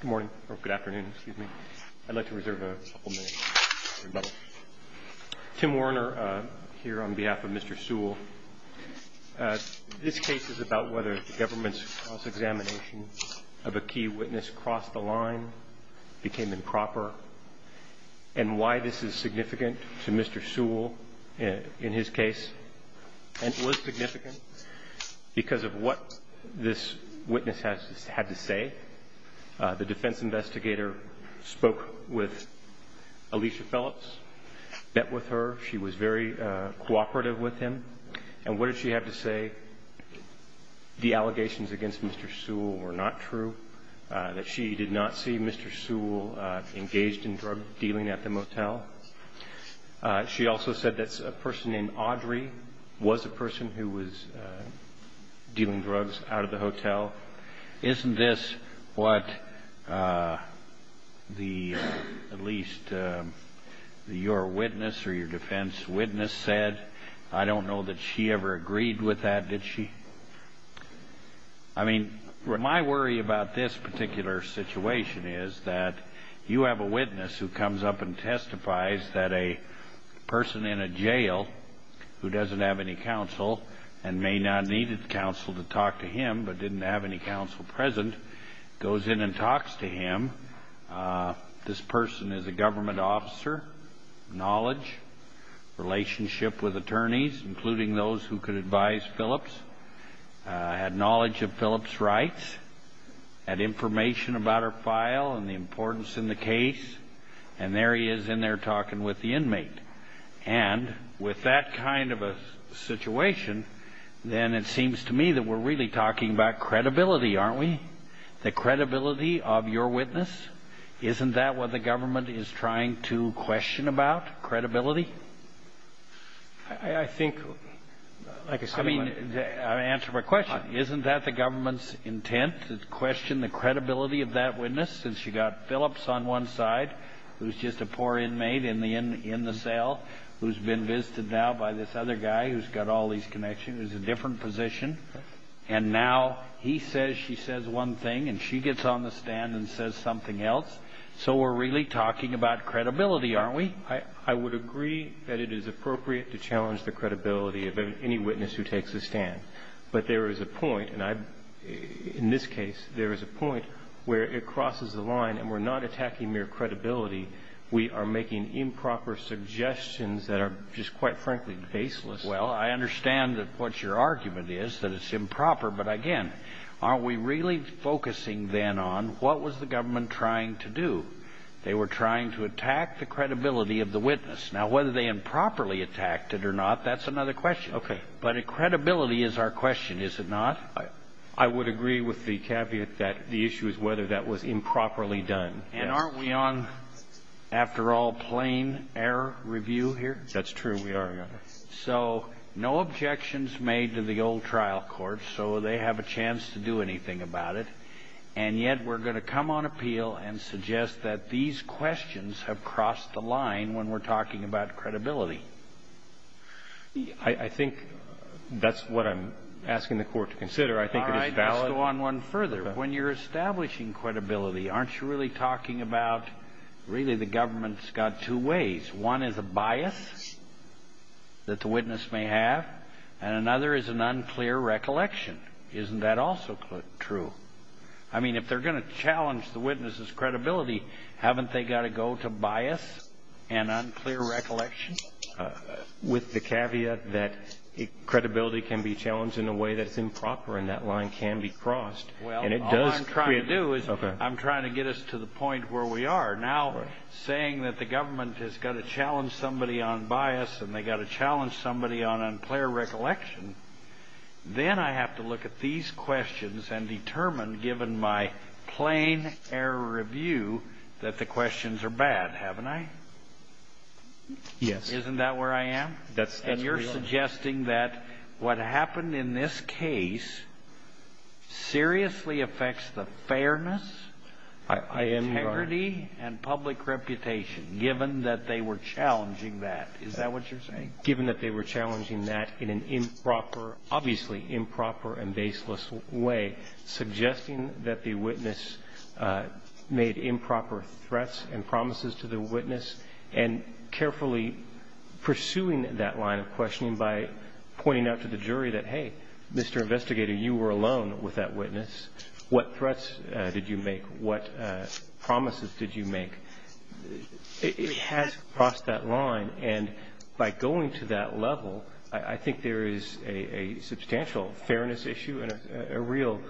Good morning, or good afternoon, excuse me. I'd like to reserve a couple minutes for rebuttal. Tim Werner here on behalf of Mr. Sewell. This case is about whether the government's cross-examination of a key witness crossed the line, became improper, and why this is significant to Mr. Sewell in his case. It was significant because of what this witness had to say. The defense investigator spoke with Alicia Phillips, met with her. She was very cooperative with him. And what did she have to say? The allegations against Mr. Sewell were not true, that she did not see Mr. Sewell engaged in drug dealing at the motel. She also said that a person named Audrey was a person who was dealing drugs out of the hotel. Isn't this what at least your witness or your defense witness said? I don't know that she ever agreed with that, did she? I mean, my worry about this particular situation is that you have a witness who comes up and testifies that a person in a jail who doesn't have any counsel and may not need counsel to talk to him, but didn't have any counsel present, goes in and talks to him. This person is a government officer, knowledge, relationship with attorneys, including those who could advise Phillips, had knowledge of Phillips' rights, had information about her file and the importance in the case, and there he is in there talking with the inmate. And with that kind of a situation, then it seems to me that we're really talking about credibility, aren't we? The credibility of your witness, isn't that what the government is trying to question about, credibility? I think, like I said, I mean... I mean, to answer my question, isn't that the government's intent to question the credibility of that witness since you've got Phillips on one side who's just a poor inmate in the cell who's been visited now by this other guy who's got all these connections, who's in a different position, and now he says she says one thing and she gets on the stand and says something else? So we're really talking about credibility, aren't we? I would agree that it is appropriate to challenge the credibility of any witness who takes a stand. But there is a point, and in this case, there is a point where it crosses the line and we're not attacking mere credibility. We are making improper suggestions that are just, quite frankly, baseless. Well, I understand what your argument is, that it's improper, but again, aren't we really focusing then on what was the government trying to do? They were trying to attack the credibility of the witness. Now, whether they improperly attacked it or not, that's another question. Okay. But credibility is our question, is it not? I would agree with the caveat that the issue is whether that was improperly done. And aren't we on, after all, plain error review here? That's true, we are, Your Honor. So no objections made to the old trial court, so they have a chance to do anything about it. And yet we're going to come on appeal and suggest that these questions have crossed the line when we're talking about credibility. I think that's what I'm asking the Court to consider. I think it is valid. All right, let's go on one further. When you're establishing credibility, aren't you really talking about really the government's got two ways? One is a bias that the witness may have, and another is an unclear recollection. Isn't that also true? I mean, if they're going to challenge the witness's credibility, haven't they got to go to bias and unclear recollection? With the caveat that credibility can be challenged in a way that's improper and that line can be crossed. Well, all I'm trying to do is I'm trying to get us to the point where we are. Now, saying that the government has got to challenge somebody on bias and they've got to challenge somebody on unclear recollection, then I have to look at these questions and determine, given my plain error review, that the questions are bad, haven't I? Yes. Isn't that where I am? And you're suggesting that what happened in this case seriously affects the fairness, integrity, and public reputation given that they were challenging that. Is that what you're saying? Given that they were challenging that in an improper, obviously improper and baseless way, suggesting that the witness made improper threats and promises to the witness and carefully pursuing that line of questioning by pointing out to the jury that, hey, Mr. Investigator, you were alone with that witness. What threats did you make? What promises did you make? It has crossed that line. And by going to that level, I think there is a substantial fairness issue and a real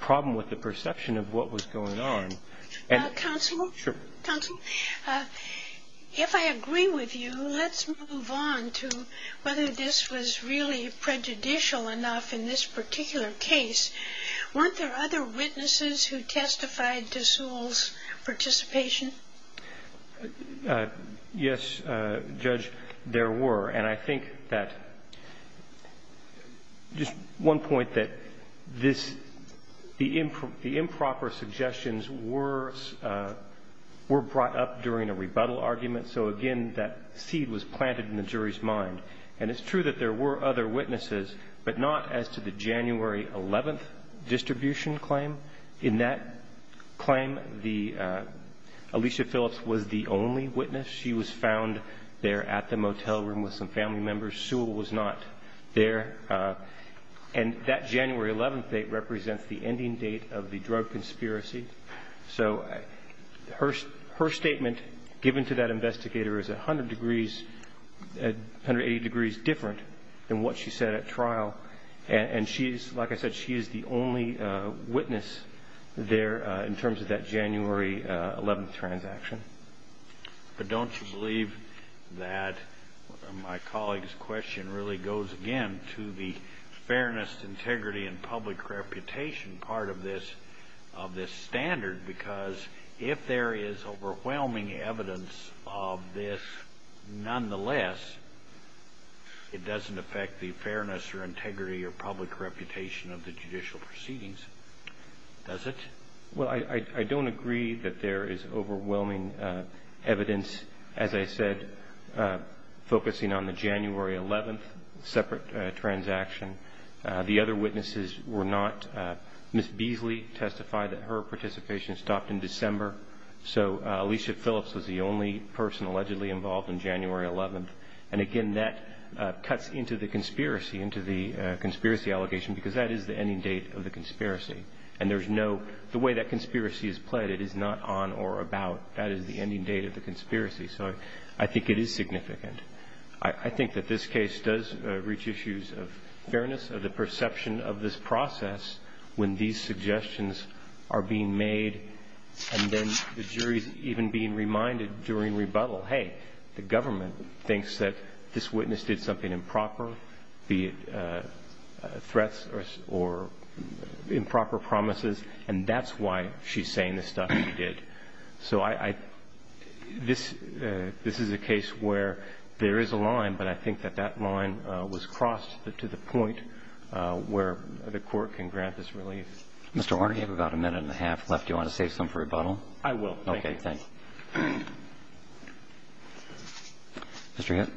problem with the perception of what was going on. Counsel? Sure. Counsel, if I agree with you, let's move on to whether this was really prejudicial enough in this particular case. Weren't there other witnesses who testified to Sewell's participation? Yes, Judge, there were. And I think that just one point, that this the improper suggestions were brought up during a rebuttal argument. So, again, that seed was planted in the jury's mind. And it's true that there were other witnesses, but not as to the January 11th distribution claim. In that claim, Alicia Phillips was the only witness. She was found there at the motel room with some family members. Sewell was not there. And that January 11th date represents the ending date of the drug conspiracy. So her statement given to that investigator is 180 degrees different than what she said at trial. And, like I said, she is the only witness there in terms of that January 11th transaction. But don't you believe that my colleague's question really goes again to the fairness, integrity, and public reputation part of this standard? Because if there is overwhelming evidence of this nonetheless, it doesn't affect the fairness or integrity or public reputation of the judicial proceedings, does it? Well, I don't agree that there is overwhelming evidence, as I said, focusing on the January 11th separate transaction. The other witnesses were not. Ms. Beasley testified that her participation stopped in December. So Alicia Phillips was the only person allegedly involved in January 11th. And, again, that cuts into the conspiracy, into the conspiracy allegation, because that is the ending date of the conspiracy. And there's no ñ the way that conspiracy is played, it is not on or about. That is the ending date of the conspiracy. So I think it is significant. I think that this case does reach issues of fairness, of the perception of this process when these suggestions are being made and then the jury's even being reminded during rebuttal, hey, the government thinks that this witness did something improper, be it threats or improper promises, and that's why she's saying the stuff she did. So I ñ this is a case where there is a line, but I think that that line was crossed to the point where the Court can grant this relief. Mr. Horn, you have about a minute and a half left. Do you want to save some for rebuttal? I will. Okay. Thank you. Mr. Hitt.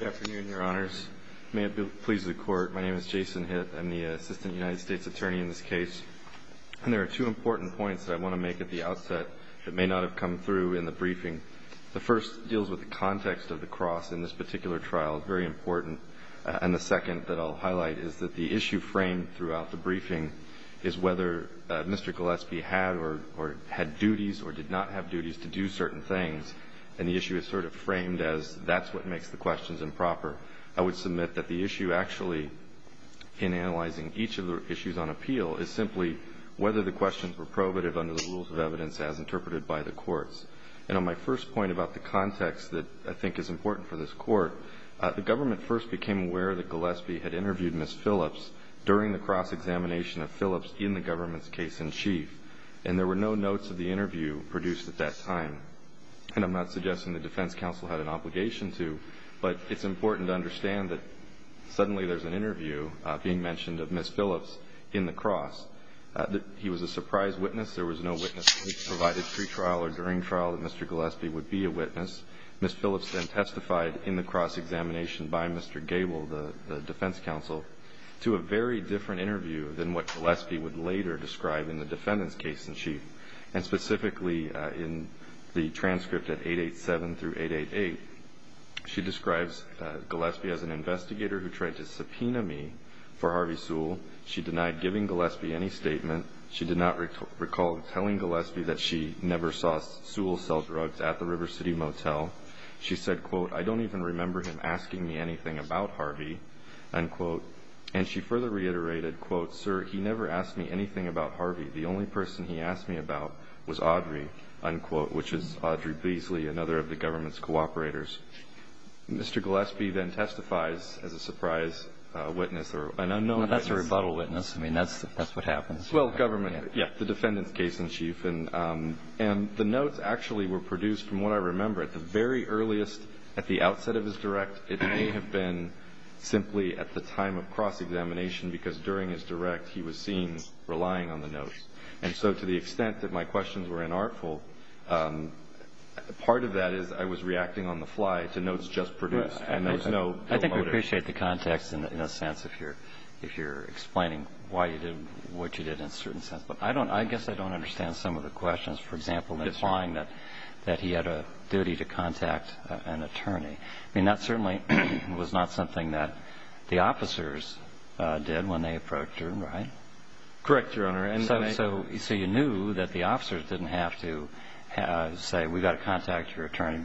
Good afternoon, Your Honors. May it please the Court, my name is Jason Hitt. I'm the Assistant United States Attorney in this case. And there are two important points that I want to make at the outset that may not have come through in the briefing. The first deals with the context of the cross in this particular trial, very important. And the second that I'll highlight is that the issue framed throughout the briefing is whether Mr. Gillespie had or had duties or did not have duties to do certain things, and the issue is sort of framed as that's what makes the questions improper. I would submit that the issue actually in analyzing each of the issues on appeal is simply whether the questions were probative under the rules of evidence as interpreted by the courts. And on my first point about the context that I think is important for this Court, the government first became aware that Gillespie had interviewed Ms. Phillips during the cross-examination of Phillips in the government's case-in-chief. And there were no notes of the interview produced at that time. And I'm not suggesting the defense counsel had an obligation to, but it's important to understand that suddenly there's an interview being mentioned of Ms. Phillips in the cross. He was a surprise witness. There was no witness who had provided pre-trial or during trial that Mr. Gillespie would be a witness. Ms. Phillips then testified in the cross-examination by Mr. Gable, the defense counsel, to a very different interview than what Gillespie would later describe in the defendant's case-in-chief. And specifically in the transcript at 887 through 888, she describes Gillespie as an investigator who tried to subpoena me for Harvey Sewell. She denied giving Gillespie any statement. She did not recall telling Gillespie that she never saw Sewell sell drugs at the River City Motel. She said, quote, I don't even remember him asking me anything about Harvey, unquote. And she further reiterated, quote, sir, he never asked me anything about Harvey. The only person he asked me about was Audrey, unquote, which is Audrey Beasley, another of the government's cooperators. Mr. Gillespie then testifies as a surprise witness or an unknown witness. Well, that's a rebuttal witness. I mean, that's what happens. Well, government, yes, the defendant's case-in-chief. And the notes actually were produced, from what I remember, at the very earliest, at the outset of his direct. It may have been simply at the time of cross-examination, because during his direct, he was seen relying on the notes. And so to the extent that my questions were inartful, part of that is I was reacting on the fly to notes just produced. And there was no motive. I think we appreciate the context, in a sense, if you're explaining why you did what you did in a certain sense. But I guess I don't understand some of the questions. For example, implying that he had a duty to contact an attorney. I mean, that certainly was not something that the officers did when they approached him, right? Correct, Your Honor. So you knew that the officers didn't have to say, we've got to contact your attorney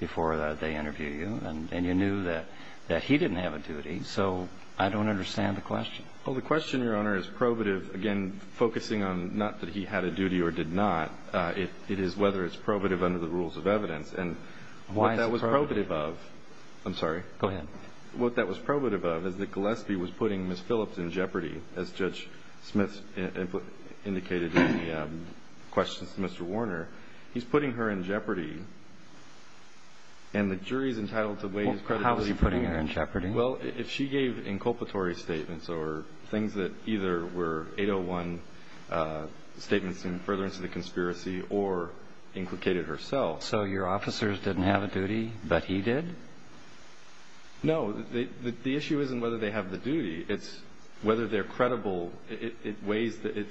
before they interview you. And you knew that he didn't have a duty. So I don't understand the question. Well, the question, Your Honor, is probative, again, focusing on not that he had a duty or did not. It is whether it's probative under the rules of evidence. And what that was probative of is that Gillespie was putting Ms. Phillips in jeopardy, as Judge Smith indicated in the questions to Mr. Warner. He's putting her in jeopardy. And the jury is entitled to weigh his credibility. How is he putting her in jeopardy? Well, if she gave inculpatory statements or things that either were 801 statements further into the conspiracy or implicated herself. So your officers didn't have a duty, but he did? No. The issue isn't whether they have the duty. It's whether they're credible. It weighs the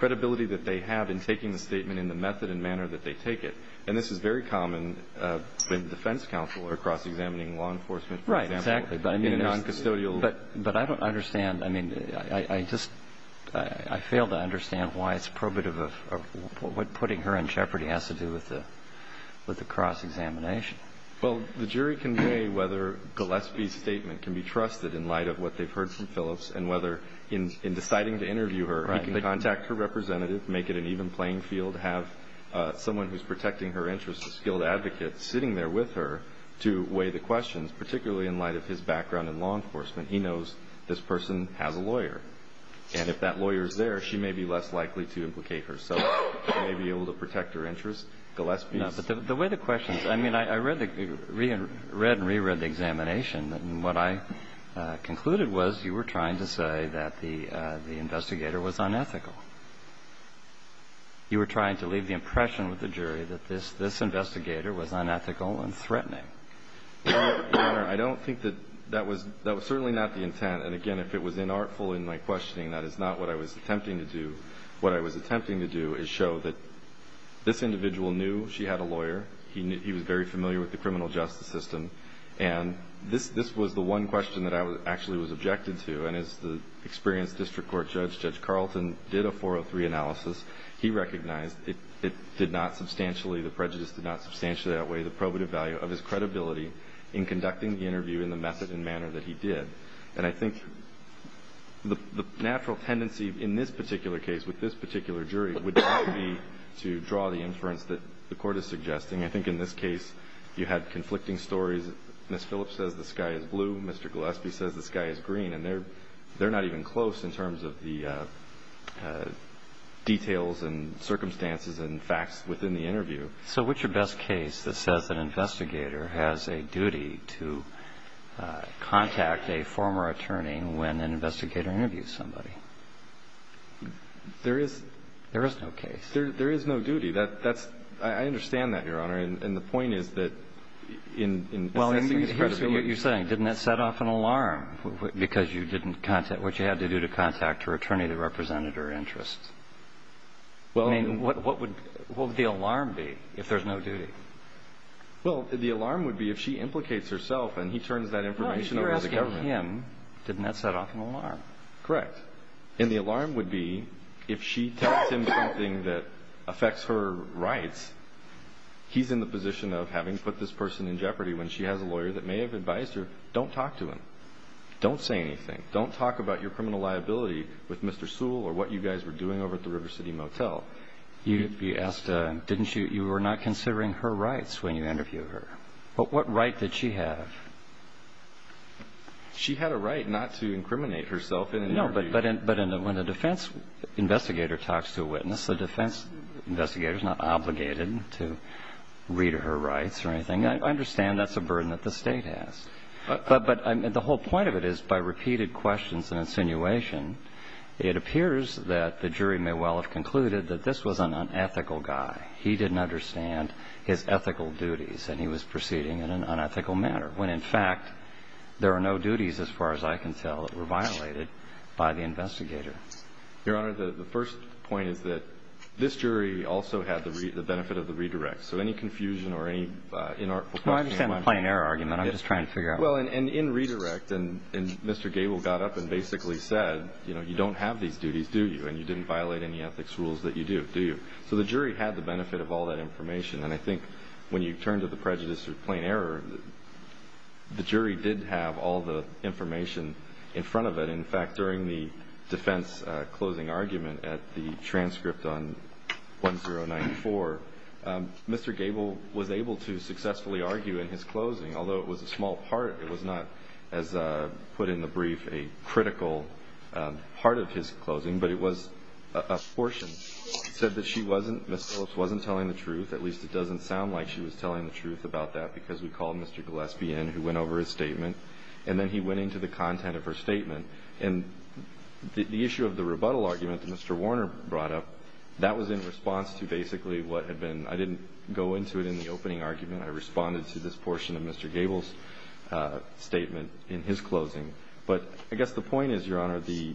credibility that they have in taking the statement in the method and manner that they take it. And this is very common in defense counsel or cross-examining law enforcement, for example, in a noncustodial way. Right, exactly. But I don't understand. I mean, I just, I fail to understand why it's probative of what putting her in jeopardy has to do with the cross-examination. Well, the jury can weigh whether Gillespie's statement can be trusted in light of what they've heard from Phillips and whether in deciding to interview her, he can contact her representative, make it an even playing field, have someone who's protecting her interests, a skilled advocate, sitting there with her to weigh the questions, particularly in light of his background in law enforcement. He knows this person has a lawyer. And if that lawyer's there, she may be less likely to implicate herself. She may be able to protect her interests. Gillespie's. No, but the way the questions, I mean, I read and reread the examination, and what I concluded was you were trying to say that the investigator was unethical. You were trying to leave the impression with the jury that this investigator was unethical and threatening. Your Honor, I don't think that that was certainly not the intent. And, again, if it was inartful in my questioning, that is not what I was attempting to do. What I was attempting to do is show that this individual knew she had a lawyer. He was very familiar with the criminal justice system. And this was the one question that I actually was objected to. And as the experienced district court judge, Judge Carlton, did a 403 analysis, he recognized it did not substantially, the prejudice did not substantially outweigh the probative value of his credibility in conducting the interview in the method and manner that he did. And I think the natural tendency in this particular case, with this particular jury, would be to draw the inference that the Court is suggesting. I think in this case you had conflicting stories. Ms. Phillips says the sky is blue. Mr. Gillespie says the sky is green. And they're not even close in terms of the details and circumstances and facts within the interview. So what's your best case that says an investigator has a duty to contact a former attorney when an investigator interviews somebody? There is no case. There is no duty. I understand that, Your Honor. And the point is that in assessing his credibility. Well, here's what you're saying. Didn't that set off an alarm because you didn't contact her? What you had to do to contact her attorney that represented her interests? I mean, what would the alarm be if there's no duty? Well, the alarm would be if she implicates herself and he turns that information over to the government. Well, if you're asking him, didn't that set off an alarm? Correct. And the alarm would be if she tells him something that affects her rights, he's in the position of having put this person in jeopardy when she has a lawyer that may have advised her, don't talk to him. Don't say anything. Don't talk about your criminal liability with Mr. Sewell or what you guys were doing over at the River City Motel. You asked, didn't you? You were not considering her rights when you interviewed her. What right did she have? When the defense investigator talks to a witness, the defense investigator is not obligated to read her rights or anything. I understand that's a burden that the State has. But the whole point of it is by repeated questions and insinuation, it appears that the jury may well have concluded that this was an unethical guy. He didn't understand his ethical duties and he was proceeding in an unethical manner, when, in fact, there are no duties, as far as I can tell, that were violated by the investigator. Your Honor, the first point is that this jury also had the benefit of the redirect. So any confusion or any inarticulate questions. I understand the plain error argument. I'm just trying to figure out. Well, in redirect, and Mr. Gable got up and basically said, you know, you don't have these duties, do you? And you didn't violate any ethics rules that you do, do you? So the jury had the benefit of all that information. And I think when you turn to the prejudice or plain error, the jury did have all the information in front of it. In fact, during the defense closing argument at the transcript on 1094, Mr. Gable was able to successfully argue in his closing, although it was a small part. It was not as put in the brief a critical part of his closing, but it was a portion. It said that she wasn't, Ms. Phillips wasn't telling the truth, at least it doesn't sound like she was telling the truth about that, because we called Mr. Gillespie in, who went over his statement, and then he went into the content of her statement. And the issue of the rebuttal argument that Mr. Warner brought up, that was in response to basically what had been, I didn't go into it in the opening argument. I responded to this portion of Mr. Gable's statement in his closing. But I guess the point is, Your Honor, the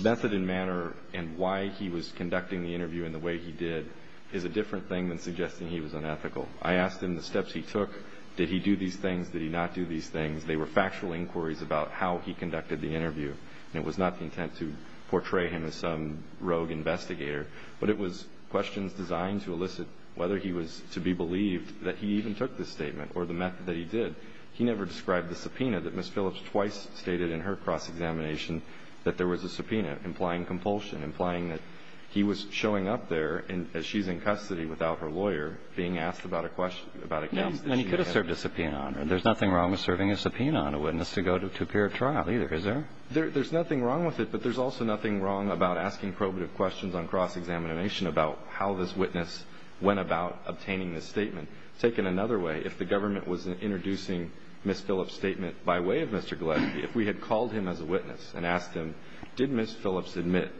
method and manner and why he was conducting the interview in the way he did is a different thing than suggesting he was unethical. I asked him the steps he took. Did he do these things? Did he not do these things? They were factual inquiries about how he conducted the interview. And it was not the intent to portray him as some rogue investigator, but it was questions designed to elicit whether he was to be believed that he even took this statement, or the method that he did. He never described the subpoena that Ms. Phillips twice stated in her cross-examination that there was a subpoena, implying compulsion, implying that he was showing up there as she's in custody without her lawyer, being asked about a case. And he could have served a subpoena on her. There's nothing wrong with serving a subpoena on a witness to go to appear at trial, either, is there? There's nothing wrong with it, but there's also nothing wrong about asking probative questions on cross-examination about how this witness went about obtaining this statement. Take it another way. If the government was introducing Ms. Phillips' statement by way of Mr. Galecki, if we had called him as a witness and asked him, did Ms. Phillips admit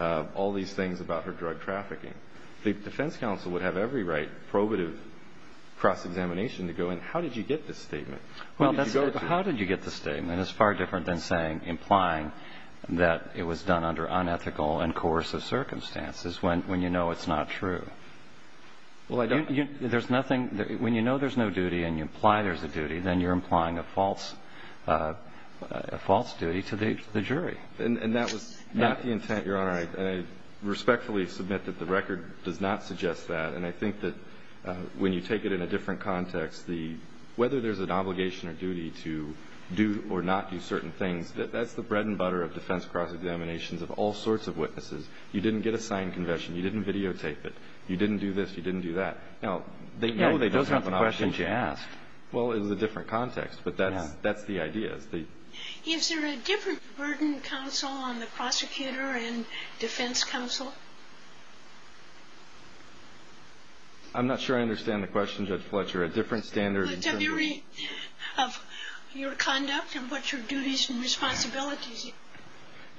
all these things about her drug trafficking, the defense counsel would have every right, probative cross-examination, to go in, how did you get this statement? How did you get this statement? It's far different than saying, implying that it was done under unethical and coercive circumstances when you know it's not true. Well, I don't... There's nothing. When you know there's no duty and you imply there's a duty, then you're implying a false duty to the jury. And that was not the intent, Your Honor. I respectfully submit that the record does not suggest that. And I think that when you take it in a different context, whether there's an obligation or duty to do or not do certain things, that's the bread and butter of defense cross-examinations of all sorts of witnesses. You didn't get a signed confession. You didn't videotape it. You didn't do this. You didn't do that. Now, they might... Those aren't the questions you asked. Well, it was a different context, but that's the idea. Is there a different burden counsel on the prosecutor and defense counsel? I'm not sure I understand the question, Judge Fletcher. A different standard... Of your conduct and what your duties and responsibilities are.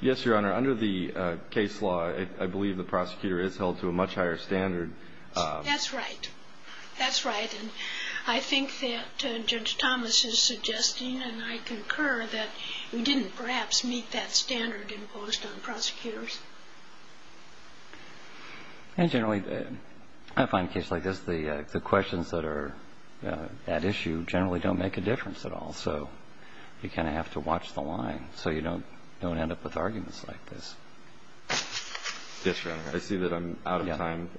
Yes, Your Honor. Under the case law, I believe the prosecutor is held to a much higher standard. That's right. That's right. And I think that Judge Thomas is suggesting, and I concur, that we didn't perhaps meet that standard imposed on prosecutors. And generally, I find cases like this, the questions that are at issue generally don't make a difference at all. So you kind of have to watch the line so you don't end up with arguments like this. Yes, Your Honor. I see that I'm out of time.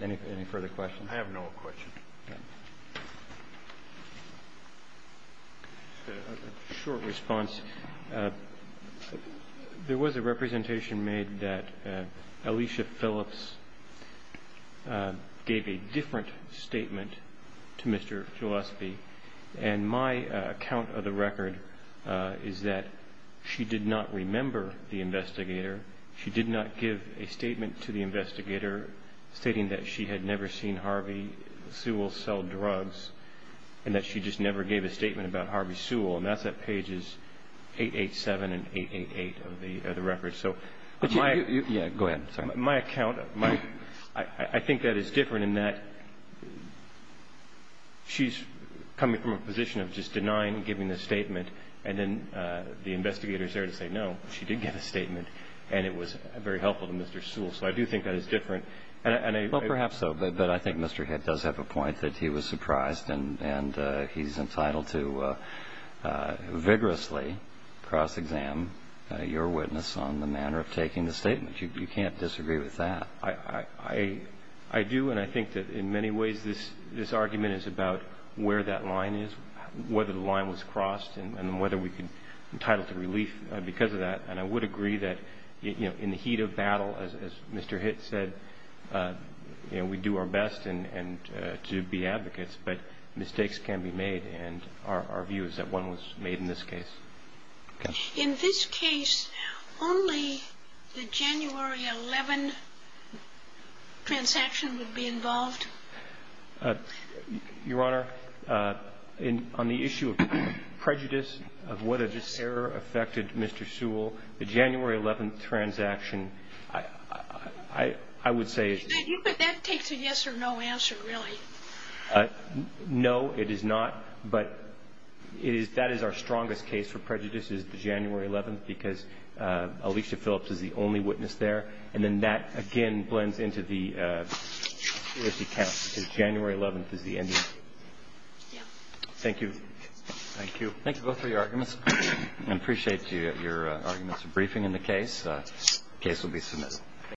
Any further questions? I have no questions. Okay. A short response. There was a representation made that Alicia Phillips gave a different statement to Mr. Gillespie. And my account of the record is that she did not remember the investigator. She did not give a statement to the investigator stating that she had never seen Harvey Sewell sell drugs and that she just never gave a statement about Harvey Sewell. And that's at pages 887 and 888 of the record. Yeah, go ahead. My account, I think that is different in that she's coming from a position of just denying giving a statement and then the investigator is there to say, no, she did give a statement and it was very helpful to Mr. Sewell. So I do think that is different. Well, perhaps so. But I think Mr. Head does have a point that he was surprised and he's entitled to vigorously cross-exam your witness on the manner of taking the statement. You can't disagree with that. I do. And I think that in many ways this argument is about where that line is, whether the line was crossed and whether we can entitle to relief because of that. And I would agree that, you know, in the heat of battle, as Mr. Hitt said, you know, we do our best to be advocates, but mistakes can be made. And our view is that one was made in this case. Okay. In this case, only the January 11th transaction would be involved? Your Honor, on the issue of prejudice, of whether this error affected Mr. Sewell, the January 11th transaction, I would say it's not. But that takes a yes or no answer, really. No, it is not. But that is our strongest case for prejudice, is the January 11th, because Alicia Phillips is the only witness there. And then that, again, blends into the security count, because January 11th is the ending. Thank you. Thank you. Thank you both for your arguments. I appreciate your arguments and briefing in the case. The case will be submitted. Thank you.